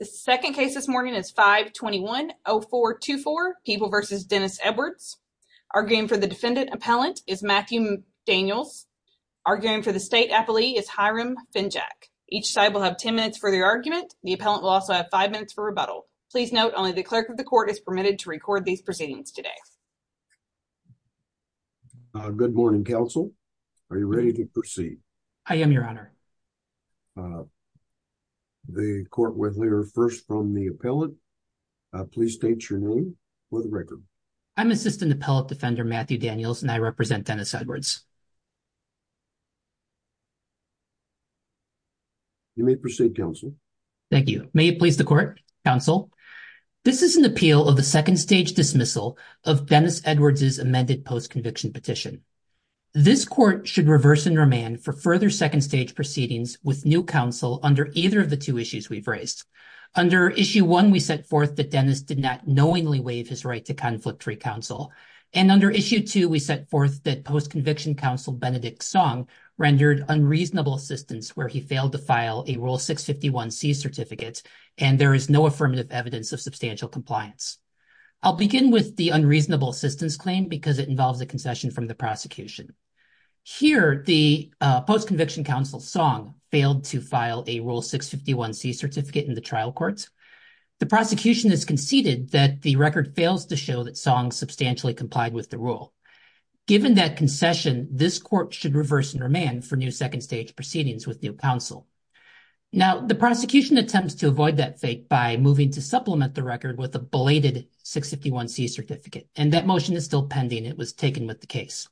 The second case this morning is 521-0424, People v. Dennis Edwards. Arguing for the defendant appellant is Matthew Daniels. Arguing for the state appellee is Hiram Finjack. Each side will have 10 minutes for their argument. The appellant will also have five minutes for rebuttal. Please note only the clerk of the court is permitted to record these proceedings today. Good morning, counsel. Are you ready to proceed? I am, your honor. The court will hear first from the appellant. Please state your name for the record. I'm Assistant Appellant Defender Matthew Daniels and I represent Dennis Edwards. You may proceed, counsel. Thank you. May it please the court. Counsel, this is an appeal of a second stage dismissal of Dennis Edwards' amended post-conviction petition. This court should reverse and new counsel under either of the two issues we've raised. Under issue one, we set forth that Dennis did not knowingly waive his right to conflict-free counsel. And under issue two, we set forth that post-conviction counsel Benedict Song rendered unreasonable assistance where he failed to file a Rule 651C certificate and there is no affirmative evidence of substantial compliance. I'll begin with the unreasonable assistance claim because it involves a post-conviction counsel Song failed to file a Rule 651C certificate in the trial courts. The prosecution has conceded that the record fails to show that Song substantially complied with the rule. Given that concession, this court should reverse and remand for new second stage proceedings with new counsel. Now, the prosecution attempts to avoid that fate by moving to supplement the record with a belated 651C certificate and that motion is still pending. It was taken with the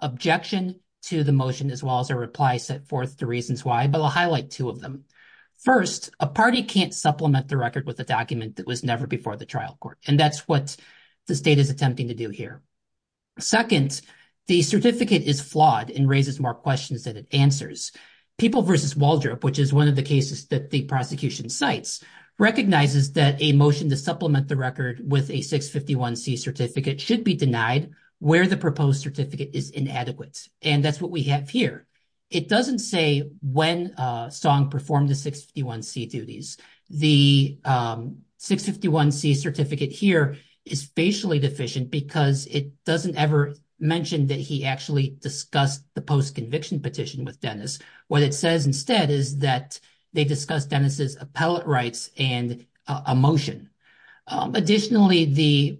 objection to the motion as well as a reply set forth the reasons why, but I'll highlight two of them. First, a party can't supplement the record with a document that was never before the trial court and that's what the state is attempting to do here. Second, the certificate is flawed and raises more questions than it answers. People v. Waldrop, which is one of the cases that the prosecution cites, recognizes that a motion to supplement the record with a 651C certificate should be denied where the proposed certificate is inadequate. And that's what we have here. It doesn't say when Song performed the 651C duties. The 651C certificate here is facially deficient because it doesn't ever mention that he actually discussed the post conviction petition with Dennis. What it says instead is that they discussed Dennis's appellate and a motion. Additionally, the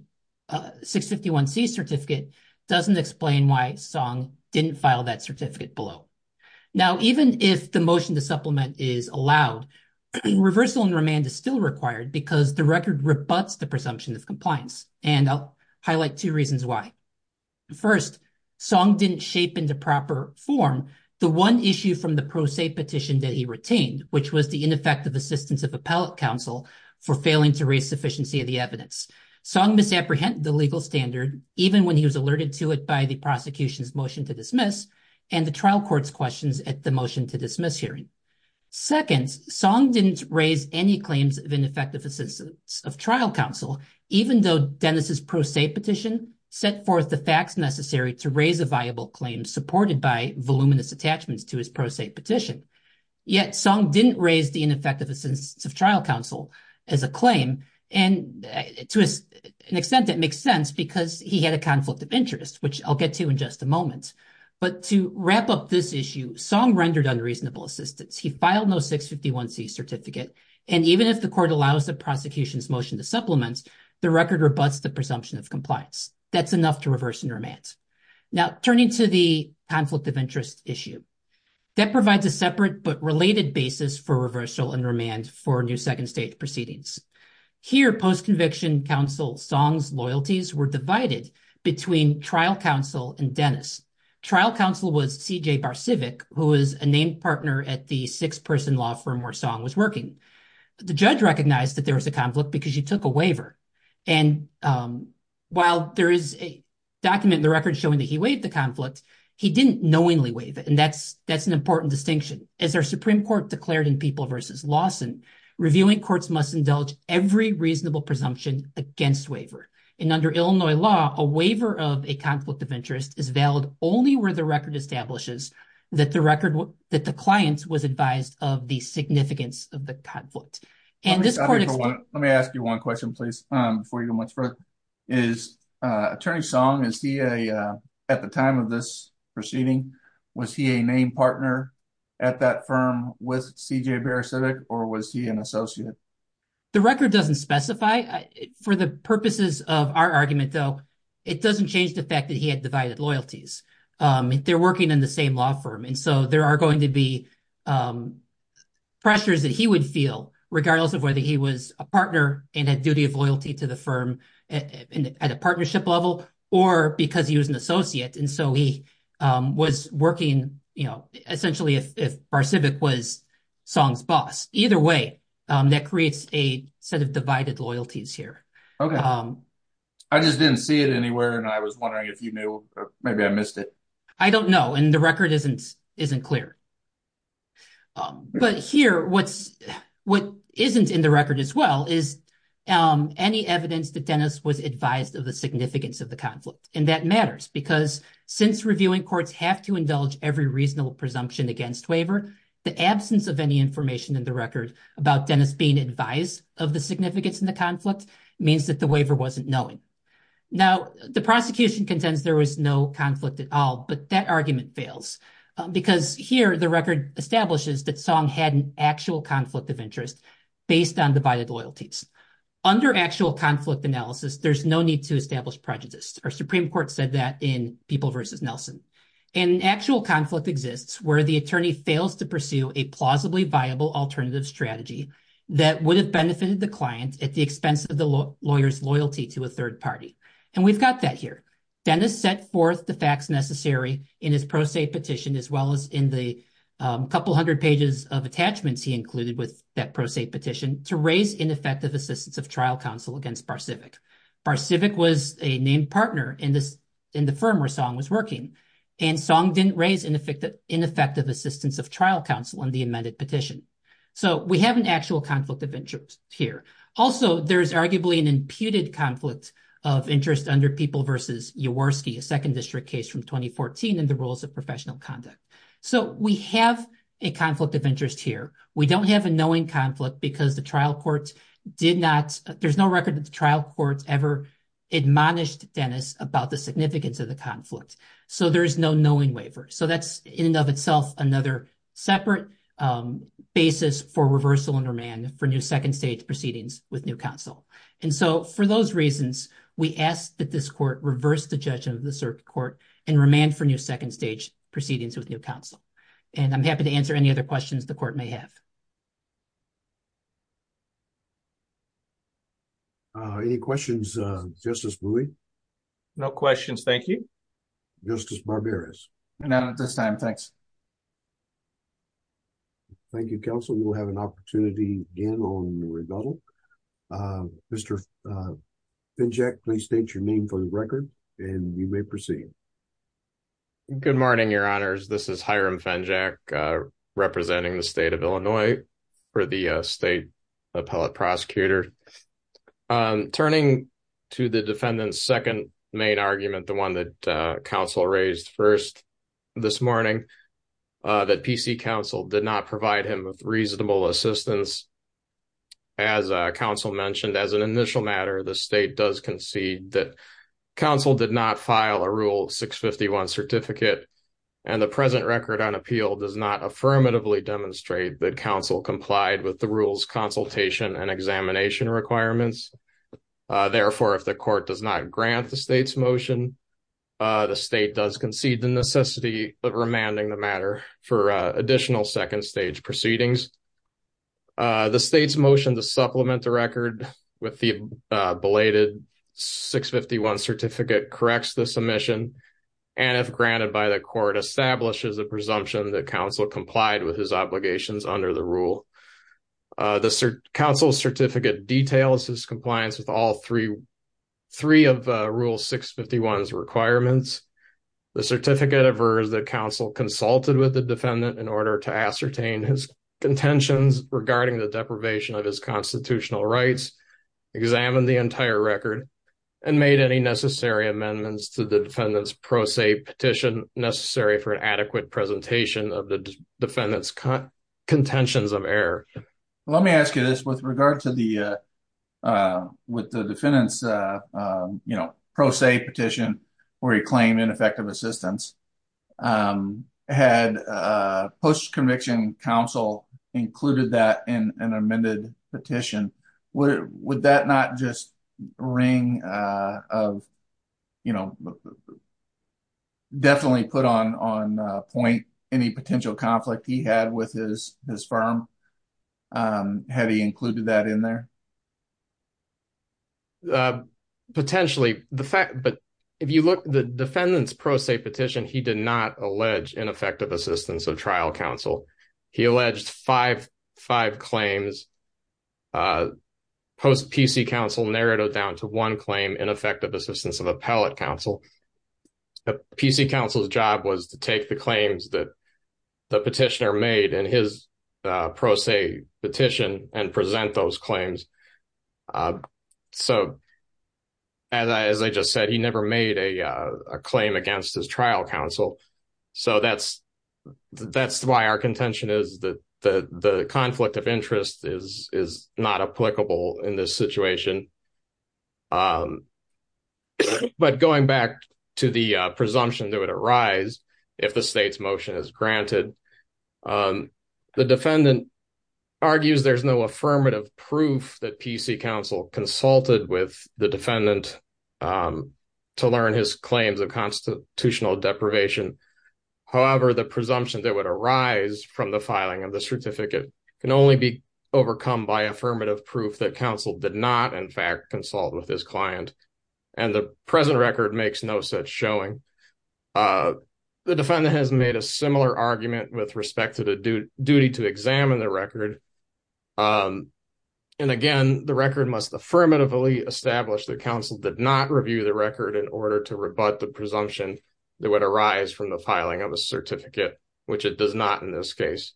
651C certificate doesn't explain why Song didn't file that certificate below. Now, even if the motion to supplement is allowed, reversal and remand is still required because the record rebuts the presumption of compliance and I'll highlight two reasons why. First, Song didn't shape into proper form the one issue from the pro se petition that which was the ineffective assistance of appellate counsel for failing to raise sufficiency of the evidence. Song misapprehended the legal standard even when he was alerted to it by the prosecution's motion to dismiss and the trial court's questions at the motion to dismiss hearing. Second, Song didn't raise any claims of ineffective assistance of trial counsel even though Dennis's pro se petition set forth the facts necessary to raise a viable claim supported by voluminous attachments to his pro se petition. Yet, Song didn't raise the ineffective assistance of trial counsel as a claim and to an extent that makes sense because he had a conflict of interest, which I'll get to in just a moment. But to wrap up this issue, Song rendered unreasonable assistance. He filed no 651C certificate and even if the court allows the prosecution's motion to supplement, the record rebuts the presumption of compliance. That's enough to reverse and remand. Now, turning to the conflict of interest issue, that provides a separate but related basis for reversal and remand for new second stage proceedings. Here, post-conviction counsel Song's loyalties were divided between trial counsel and Dennis. Trial counsel was CJ Barsivic, who was a named partner at the six-person law firm where Song was working. The judge recognized that there was a conflict because he took a waiver. While there is a document in the record showing that he waived the conflict, he didn't knowingly waive it and that's an important distinction. As our Supreme Court declared in People v. Lawson, reviewing courts must indulge every reasonable presumption against waiver. Under Illinois law, a waiver of a conflict of interest is valid only where the record establishes that the client was advised of the significance of conflict. Let me ask you one question, please, before you go much further. Attorney Song, at the time of this proceeding, was he a named partner at that firm with CJ Barsivic or was he an associate? The record doesn't specify. For the purposes of our argument, though, it doesn't change the fact that he had divided loyalties. They're working in the same law firm and so there regardless of whether he was a partner and had duty of loyalty to the firm at a partnership level or because he was an associate and so he was working essentially if Barsivic was Song's boss. Either way, that creates a set of divided loyalties here. I just didn't see it anywhere and I was wondering if you knew. Maybe I missed it. I don't know and the record isn't clear. But here, what isn't in the record as well is any evidence that Dennis was advised of the significance of the conflict and that matters because since reviewing courts have to indulge every reasonable presumption against waiver, the absence of any information in the record about Dennis being advised of the significance in the conflict means that the waiver wasn't knowing. Now, the prosecution contends there was no conflict at all but that argument fails because here the record establishes that Song had an actual conflict of interest based on divided loyalties. Under actual conflict analysis, there's no need to establish prejudice. Our Supreme Court said that in People v. Nelson. An actual conflict exists where the attorney fails to pursue a plausibly viable alternative strategy that would have benefited the client at the expense of the lawyer's loyalty to a third party and we've got that here. Dennis set forth the facts necessary in his pro se petition as well as in the couple hundred pages of attachments he included with that pro se petition to raise ineffective assistance of trial counsel against BarCivic. BarCivic was a named partner in the firm where Song was working and Song didn't raise ineffective assistance of trial counsel in the amended petition. So, we have an actual conflict of interest here. Also, there's arguably an imputed conflict of interest under People v. Jaworski, a second district case from 2014 in the rules of professional conduct. So, we have a conflict of interest here. We don't have a knowing conflict because the trial courts did not, there's no record that the trial courts ever admonished Dennis about the significance of the conflict. So, there is no knowing waiver. So, that's in and of itself another separate basis for reversal under man for new second stage proceedings with new counsel. And so, for those reasons, we ask that this court reverse the judgment of the circuit court and remand for new second stage proceedings with new counsel. And I'm happy to answer any other questions the court may have. Any questions, Justice Bowie? No questions, thank you. Justice Barberas? Not at this time, thanks. Thank you, counsel. We'll have an opportunity again on rebuttal. Mr. Finjack, please state your name for the record and you may proceed. Good morning, your honors. This is Hiram Finjack representing the state of Illinois for the state appellate prosecutor. Turning to the defendant's second main argument, the one that counsel raised first this morning, that PC counsel did not provide him with reasonable assistance. As counsel mentioned, as an initial matter, the state does concede that counsel did not file a rule 651 certificate and the present record on appeal does not affirmatively demonstrate that counsel complied with the rules consultation and examination requirements. Therefore, if the court does not grant the state's motion, the state does concede the necessity of remanding the matter for additional second stage proceedings. The state's motion to supplement the record with the belated 651 certificate corrects the submission and if granted by the court, establishes a presumption that counsel complied with his obligations under the rule. The counsel's certificate details his compliance with all three of rule 651's requirements. The certificate averses that counsel consulted with the defendant in order to ascertain his contentions regarding the deprivation of his constitutional rights, examined the entire record, and made any necessary amendments to the defendant's pro se petition necessary for an adequate presentation of the defendant's contentions of error. Let me ask you this, with regard to the defendant's pro se petition where he claimed ineffective assistance, had post-conviction counsel included that in an amended petition, would that not just ring of note, definitely put on point any potential conflict he had with his firm? Had he included that in there? Potentially, but if you look at the defendant's pro se petition, he did not allege ineffective assistance of trial counsel. He alleged five claims, post-PC counsel narrowed down to one claim, ineffective assistance of appellate counsel. PC counsel's job was to take the claims that the petitioner made in his pro se petition and present those claims. So, as I just said, he never made a claim against his trial counsel. So, that's why our contention is that the conflict of interest is not applicable in this situation. But going back to the presumption that would arise if the state's motion is granted, the defendant argues there's no affirmative proof that PC counsel consulted with the defendant to learn his claims of constitutional deprivation. However, the presumption that would arise from the filing of the certificate can only be overcome by affirmative proof that counsel did not, in fact, consult with his client. And the present record makes no such showing. The defendant has made a similar argument with respect to the duty to examine the record. And again, the record must affirmatively establish that counsel did not review the record in order to rebut the presumption that would arise from the filing of a certificate, which it does not in this case.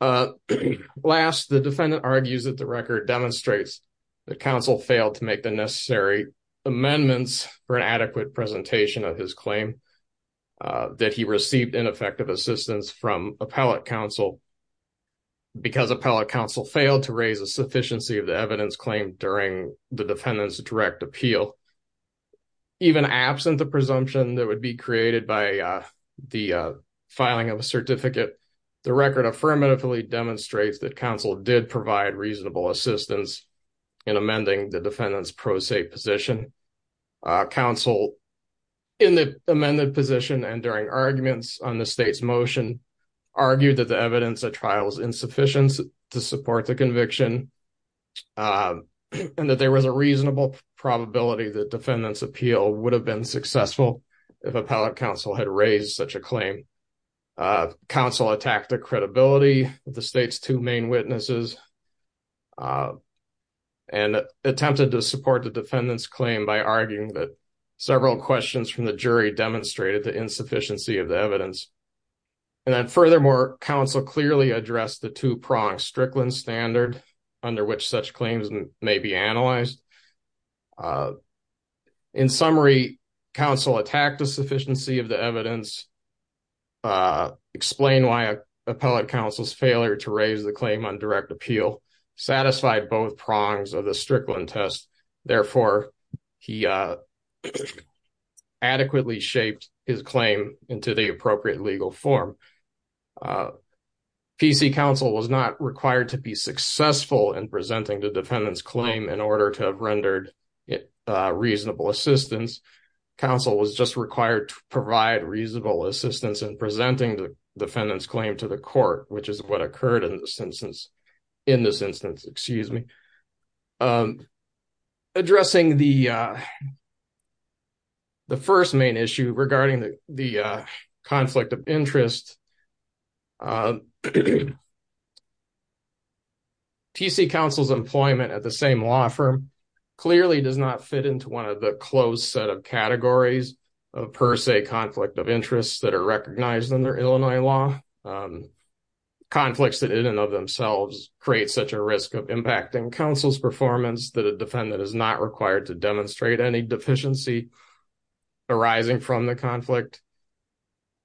Last, the defendant argues that the record demonstrates that counsel failed to make the necessary amendments for an adequate presentation of his claim, that he received ineffective assistance from appellate counsel because appellate counsel failed to raise a sufficiency of the evidence claimed during the defendant's direct appeal. Even absent the certificate, the record affirmatively demonstrates that counsel did provide reasonable assistance in amending the defendant's pro se position. Counsel, in the amended position and during arguments on the state's motion, argued that the evidence of trial's insufficiency to support the conviction and that there was a reasonable probability that defendant's appeal would have been successful if appellate counsel had raised such a claim. Counsel attacked the credibility of the state's two main witnesses and attempted to support the defendant's claim by arguing that several questions from the jury demonstrated the insufficiency of the evidence. And then furthermore, counsel clearly addressed the two-pronged Strickland standard under which such claims may be analyzed. In summary, counsel attacked the sufficiency of the evidence, explained why appellate counsel's failure to raise the claim on direct appeal satisfied both prongs of the Strickland test. Therefore, he adequately shaped his claim into the appropriate legal form. PC counsel was not required to be successful in presenting the defendant's claim in order to have rendered reasonable assistance. Counsel was just required to provide reasonable assistance in presenting the defendant's claim to the court, which is what occurred in this instance. In this instance, excuse me. Addressing the first main issue regarding the conflict of interest, TC counsel's employment at the same law firm clearly does not fit into one of the closed set of categories of per se conflict of interest that are recognized under Illinois law. Conflicts that in and of themselves create such a risk of impacting counsel's performance that defendant is not required to demonstrate any deficiency arising from the conflict.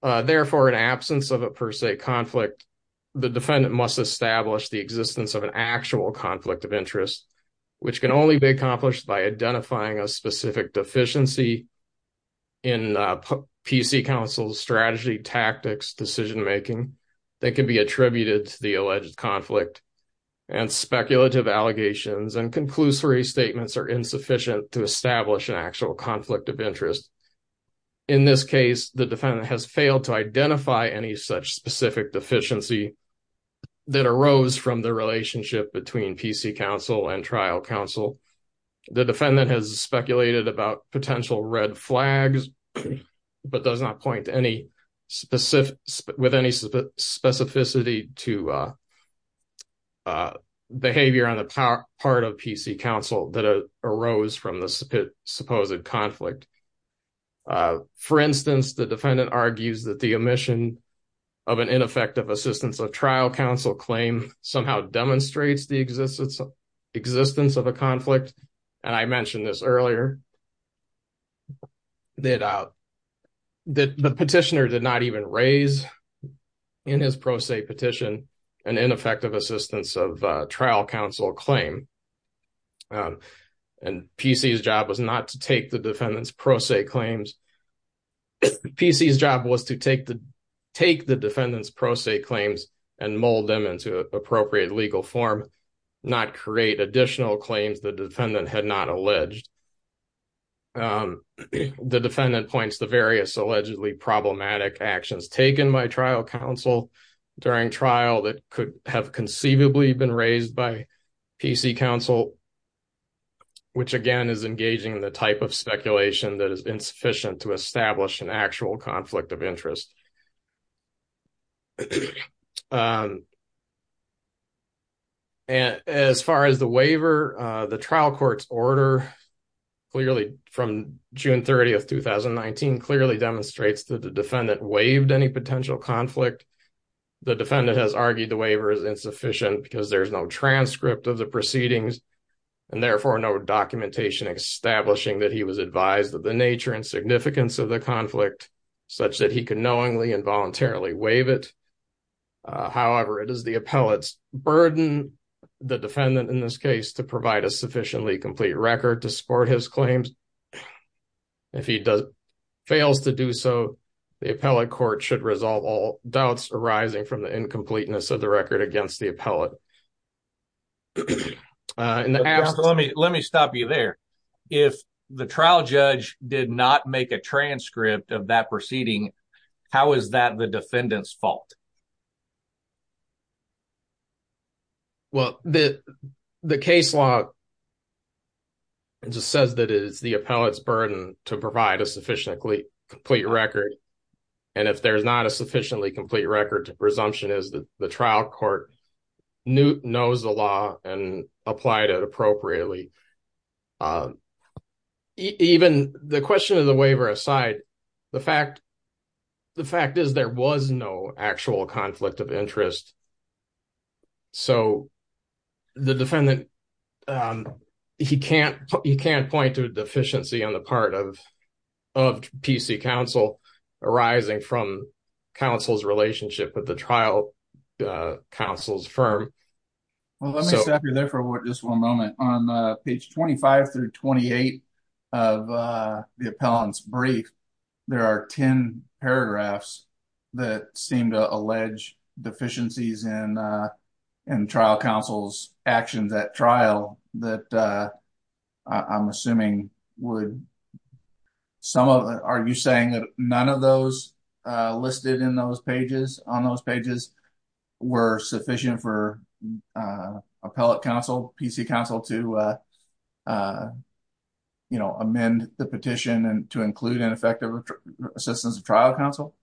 Therefore, in absence of a per se conflict, the defendant must establish the existence of an actual conflict of interest, which can only be accomplished by identifying a specific deficiency in PC counsel's strategy, tactics, decision-making that can be attributed to the are insufficient to establish an actual conflict of interest. In this case, the defendant has failed to identify any such specific deficiency that arose from the relationship between PC counsel and trial counsel. The defendant has speculated about potential red flags, but does not point to any specificity to behavior on the part of PC counsel that arose from the supposed conflict. For instance, the defendant argues that the omission of an ineffective assistance of trial counsel claim somehow demonstrates the existence of a conflict, and I mentioned this earlier. The petitioner did not even raise in his pro se petition an ineffective assistance of trial counsel claim, and PC's job was not to take the defendant's pro se claims. PC's job was to take the defendant's pro se claims and mold them into appropriate legal form, not create additional claims the defendant had not alleged. The defendant points to various allegedly problematic actions taken by trial counsel during trial that could have conceivably been raised by PC counsel, which again is engaging in the type of speculation that is insufficient to establish an actual The trial court's order clearly from June 30, 2019, clearly demonstrates that the defendant waived any potential conflict. The defendant has argued the waiver is insufficient because there's no transcript of the proceedings and therefore no documentation establishing that he was advised of the nature and significance of the conflict such that he could knowingly voluntarily waive it. However, it is the appellate's burden, the defendant in this case, to provide a sufficiently complete record to support his claims. If he fails to do so, the appellate court should resolve all doubts arising from the incompleteness of the record against the appellate. Let me stop you there. If the trial judge did not make a transcript of that the defendant's fault. Well, the case law just says that it is the appellate's burden to provide a sufficiently complete record. And if there's not a sufficiently complete record, the presumption is that the trial court knows the law and applied it appropriately. Even the question of the waiver aside, the fact is there was no actual conflict of interest. So the defendant, he can't point to a deficiency on the part of PC counsel arising from counsel's relationship with the trial counsel's firm. Well, let me stop you there for just one moment. On page 25 through 28 of the appellant's brief, there are 10 paragraphs that seem to allege deficiencies in trial counsel's actions at trial that I'm assuming would some of, are you saying that none of those listed on those pages were sufficient for appellate counsel, PC counsel to amend the petition and to include ineffective assistance of trial counsel?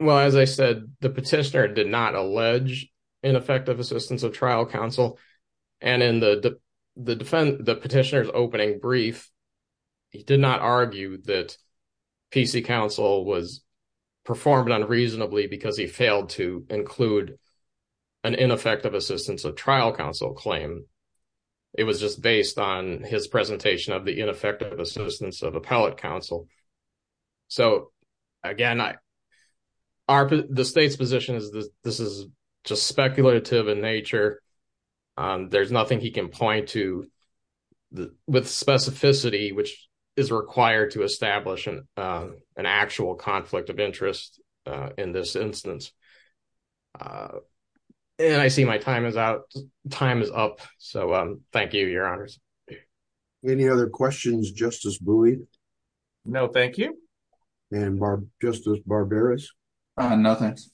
Well, as I said, the petitioner did not allege ineffective assistance of trial counsel. And in the petitioner's opening brief, he did not argue that PC counsel was performed unreasonably because he failed to include an ineffective assistance of trial counsel claim. It was just based on his presentation of the ineffective assistance of appellate counsel. So again, the state's position is that this is just speculative in nature. There's nothing he can point to with specificity, which is required to establish an actual conflict of interest in this instance. And I see my time is out. Time is up. So thank you, your honors. Any other questions, Justice Bowie? No, thank you. And Justice Barberis? No, thanks.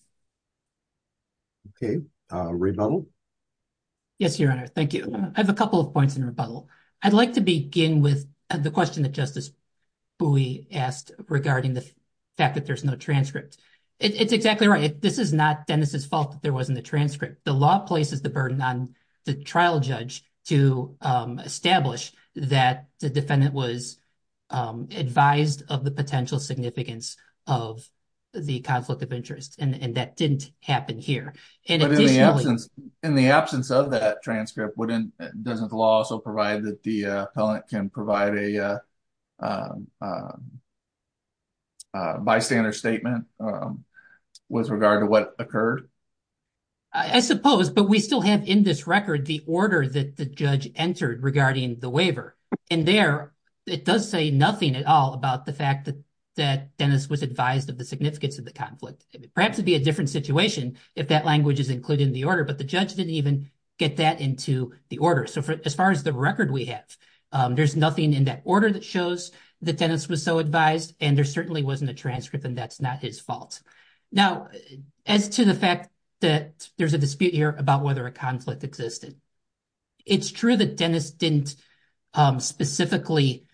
Okay. Rebuttal? Yes, your honor. Thank you. I have a couple of points in rebuttal. I'd like to begin with the question that Justice Bowie asked regarding the fact that there's no transcript. It's exactly right. This is not Dennis's fault that there wasn't a transcript. The law places the burden on the trial judge to establish that the defendant was advised of the potential significance of the conflict of interest. And that didn't happen here. But in the absence of that transcript, doesn't the law also provide that the appellant can provide a statement with regard to what occurred? I suppose, but we still have in this record the order that the judge entered regarding the waiver. And there, it does say nothing at all about the fact that Dennis was advised of the significance of the conflict. Perhaps it'd be a different situation if that language is included in the order, but the judge didn't even get that into the order. So as far as the record we have, there's nothing in that order that shows that that's not his fault. Now, as to the fact that there's a dispute here about whether a conflict existed, it's true that Dennis didn't specifically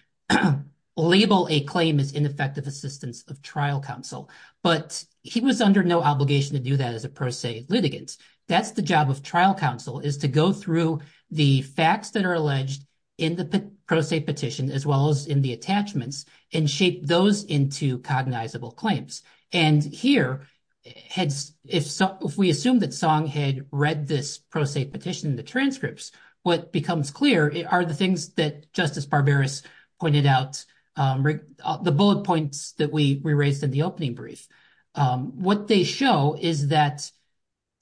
label a claim as ineffective assistance of trial counsel, but he was under no obligation to do that as a pro se litigant. That's the job of trial counsel, is to go through the facts that are alleged in the pro se petition, as well as in the attachments, and shape those into cognizable claims. And here, if we assume that Song had read this pro se petition, the transcripts, what becomes clear are the things that Justice Barbaras pointed out, the bullet points that we raised in the opening brief. What they show is that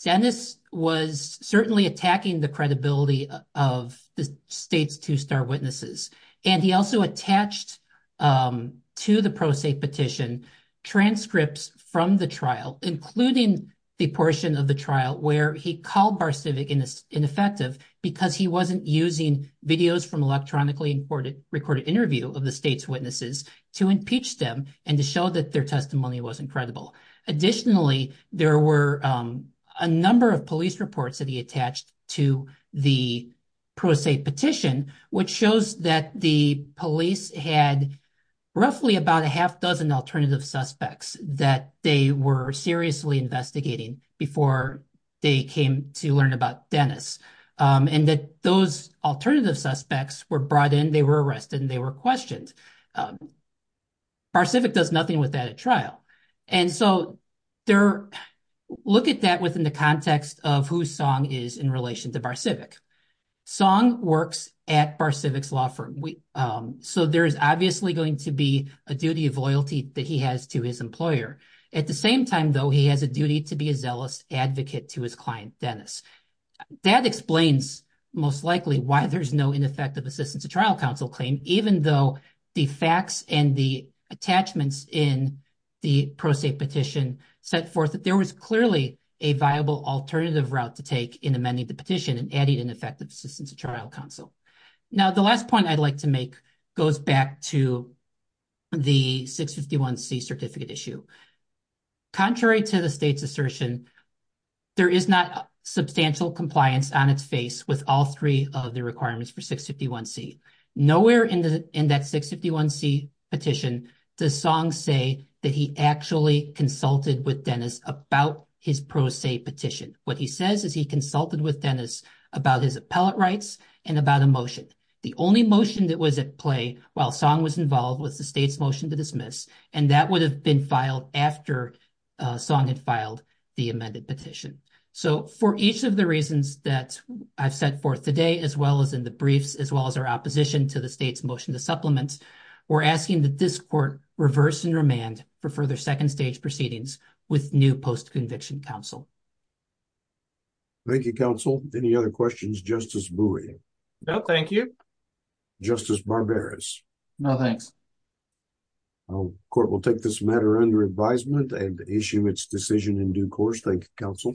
Dennis was certainly attacking the credibility of the state's two star witnesses, and he also attached to the pro se petition transcripts from the trial, including the portion of the trial where he called Bar Civic ineffective, because he wasn't using videos from electronically recorded interview of the state's witnesses to impeach them, and to show that their testimony was incredible. Additionally, there were a number of police reports that he attached to the pro se petition, which shows that the police had roughly about a half dozen alternative suspects that they were seriously investigating before they came to learn about Dennis, and that those alternative suspects were brought in, they were arrested, and they were questioned. Bar Civic does nothing with that at trial. And so, look at that within the context of who Song is in relation to Bar Civic. Song works at Bar Civic's law firm, so there is obviously going to be a duty of loyalty that he has to his employer. At the same time, though, he has a duty to be a zealous advocate to his client, Dennis. That explains, most likely, why there's no ineffective assistance to trial counsel claim, even though the facts and the attachments in the pro se petition set forth that there was clearly a viable alternative route to take in amending the petition and adding an effective assistance to trial counsel. Now, the last point I'd like to make goes back to the 651c certificate issue. Contrary to the state's assertion, there is not substantial compliance on its face with all three of the requirements for 651c. Nowhere in that 651c petition does Song say that he actually consulted with Dennis about his pro se petition. What he says is he consulted with Dennis about his appellate rights and about a motion. The only motion that was at play while Song was involved was the state's motion to dismiss, and that would have been filed after Song had filed the amended petition. So, for each of the reasons that I've set forth today, as well as in the briefs, as well as our opposition to the state's motion to supplement, we're asking that this court reverse and remand for further second stage proceedings with new post-conviction counsel. Thank you, counsel. Any other questions? Justice Bowie? No, thank you. Justice Barberis? No, thanks. Court will take this matter under advisement and issue its decision in due course. Thank you, counsel.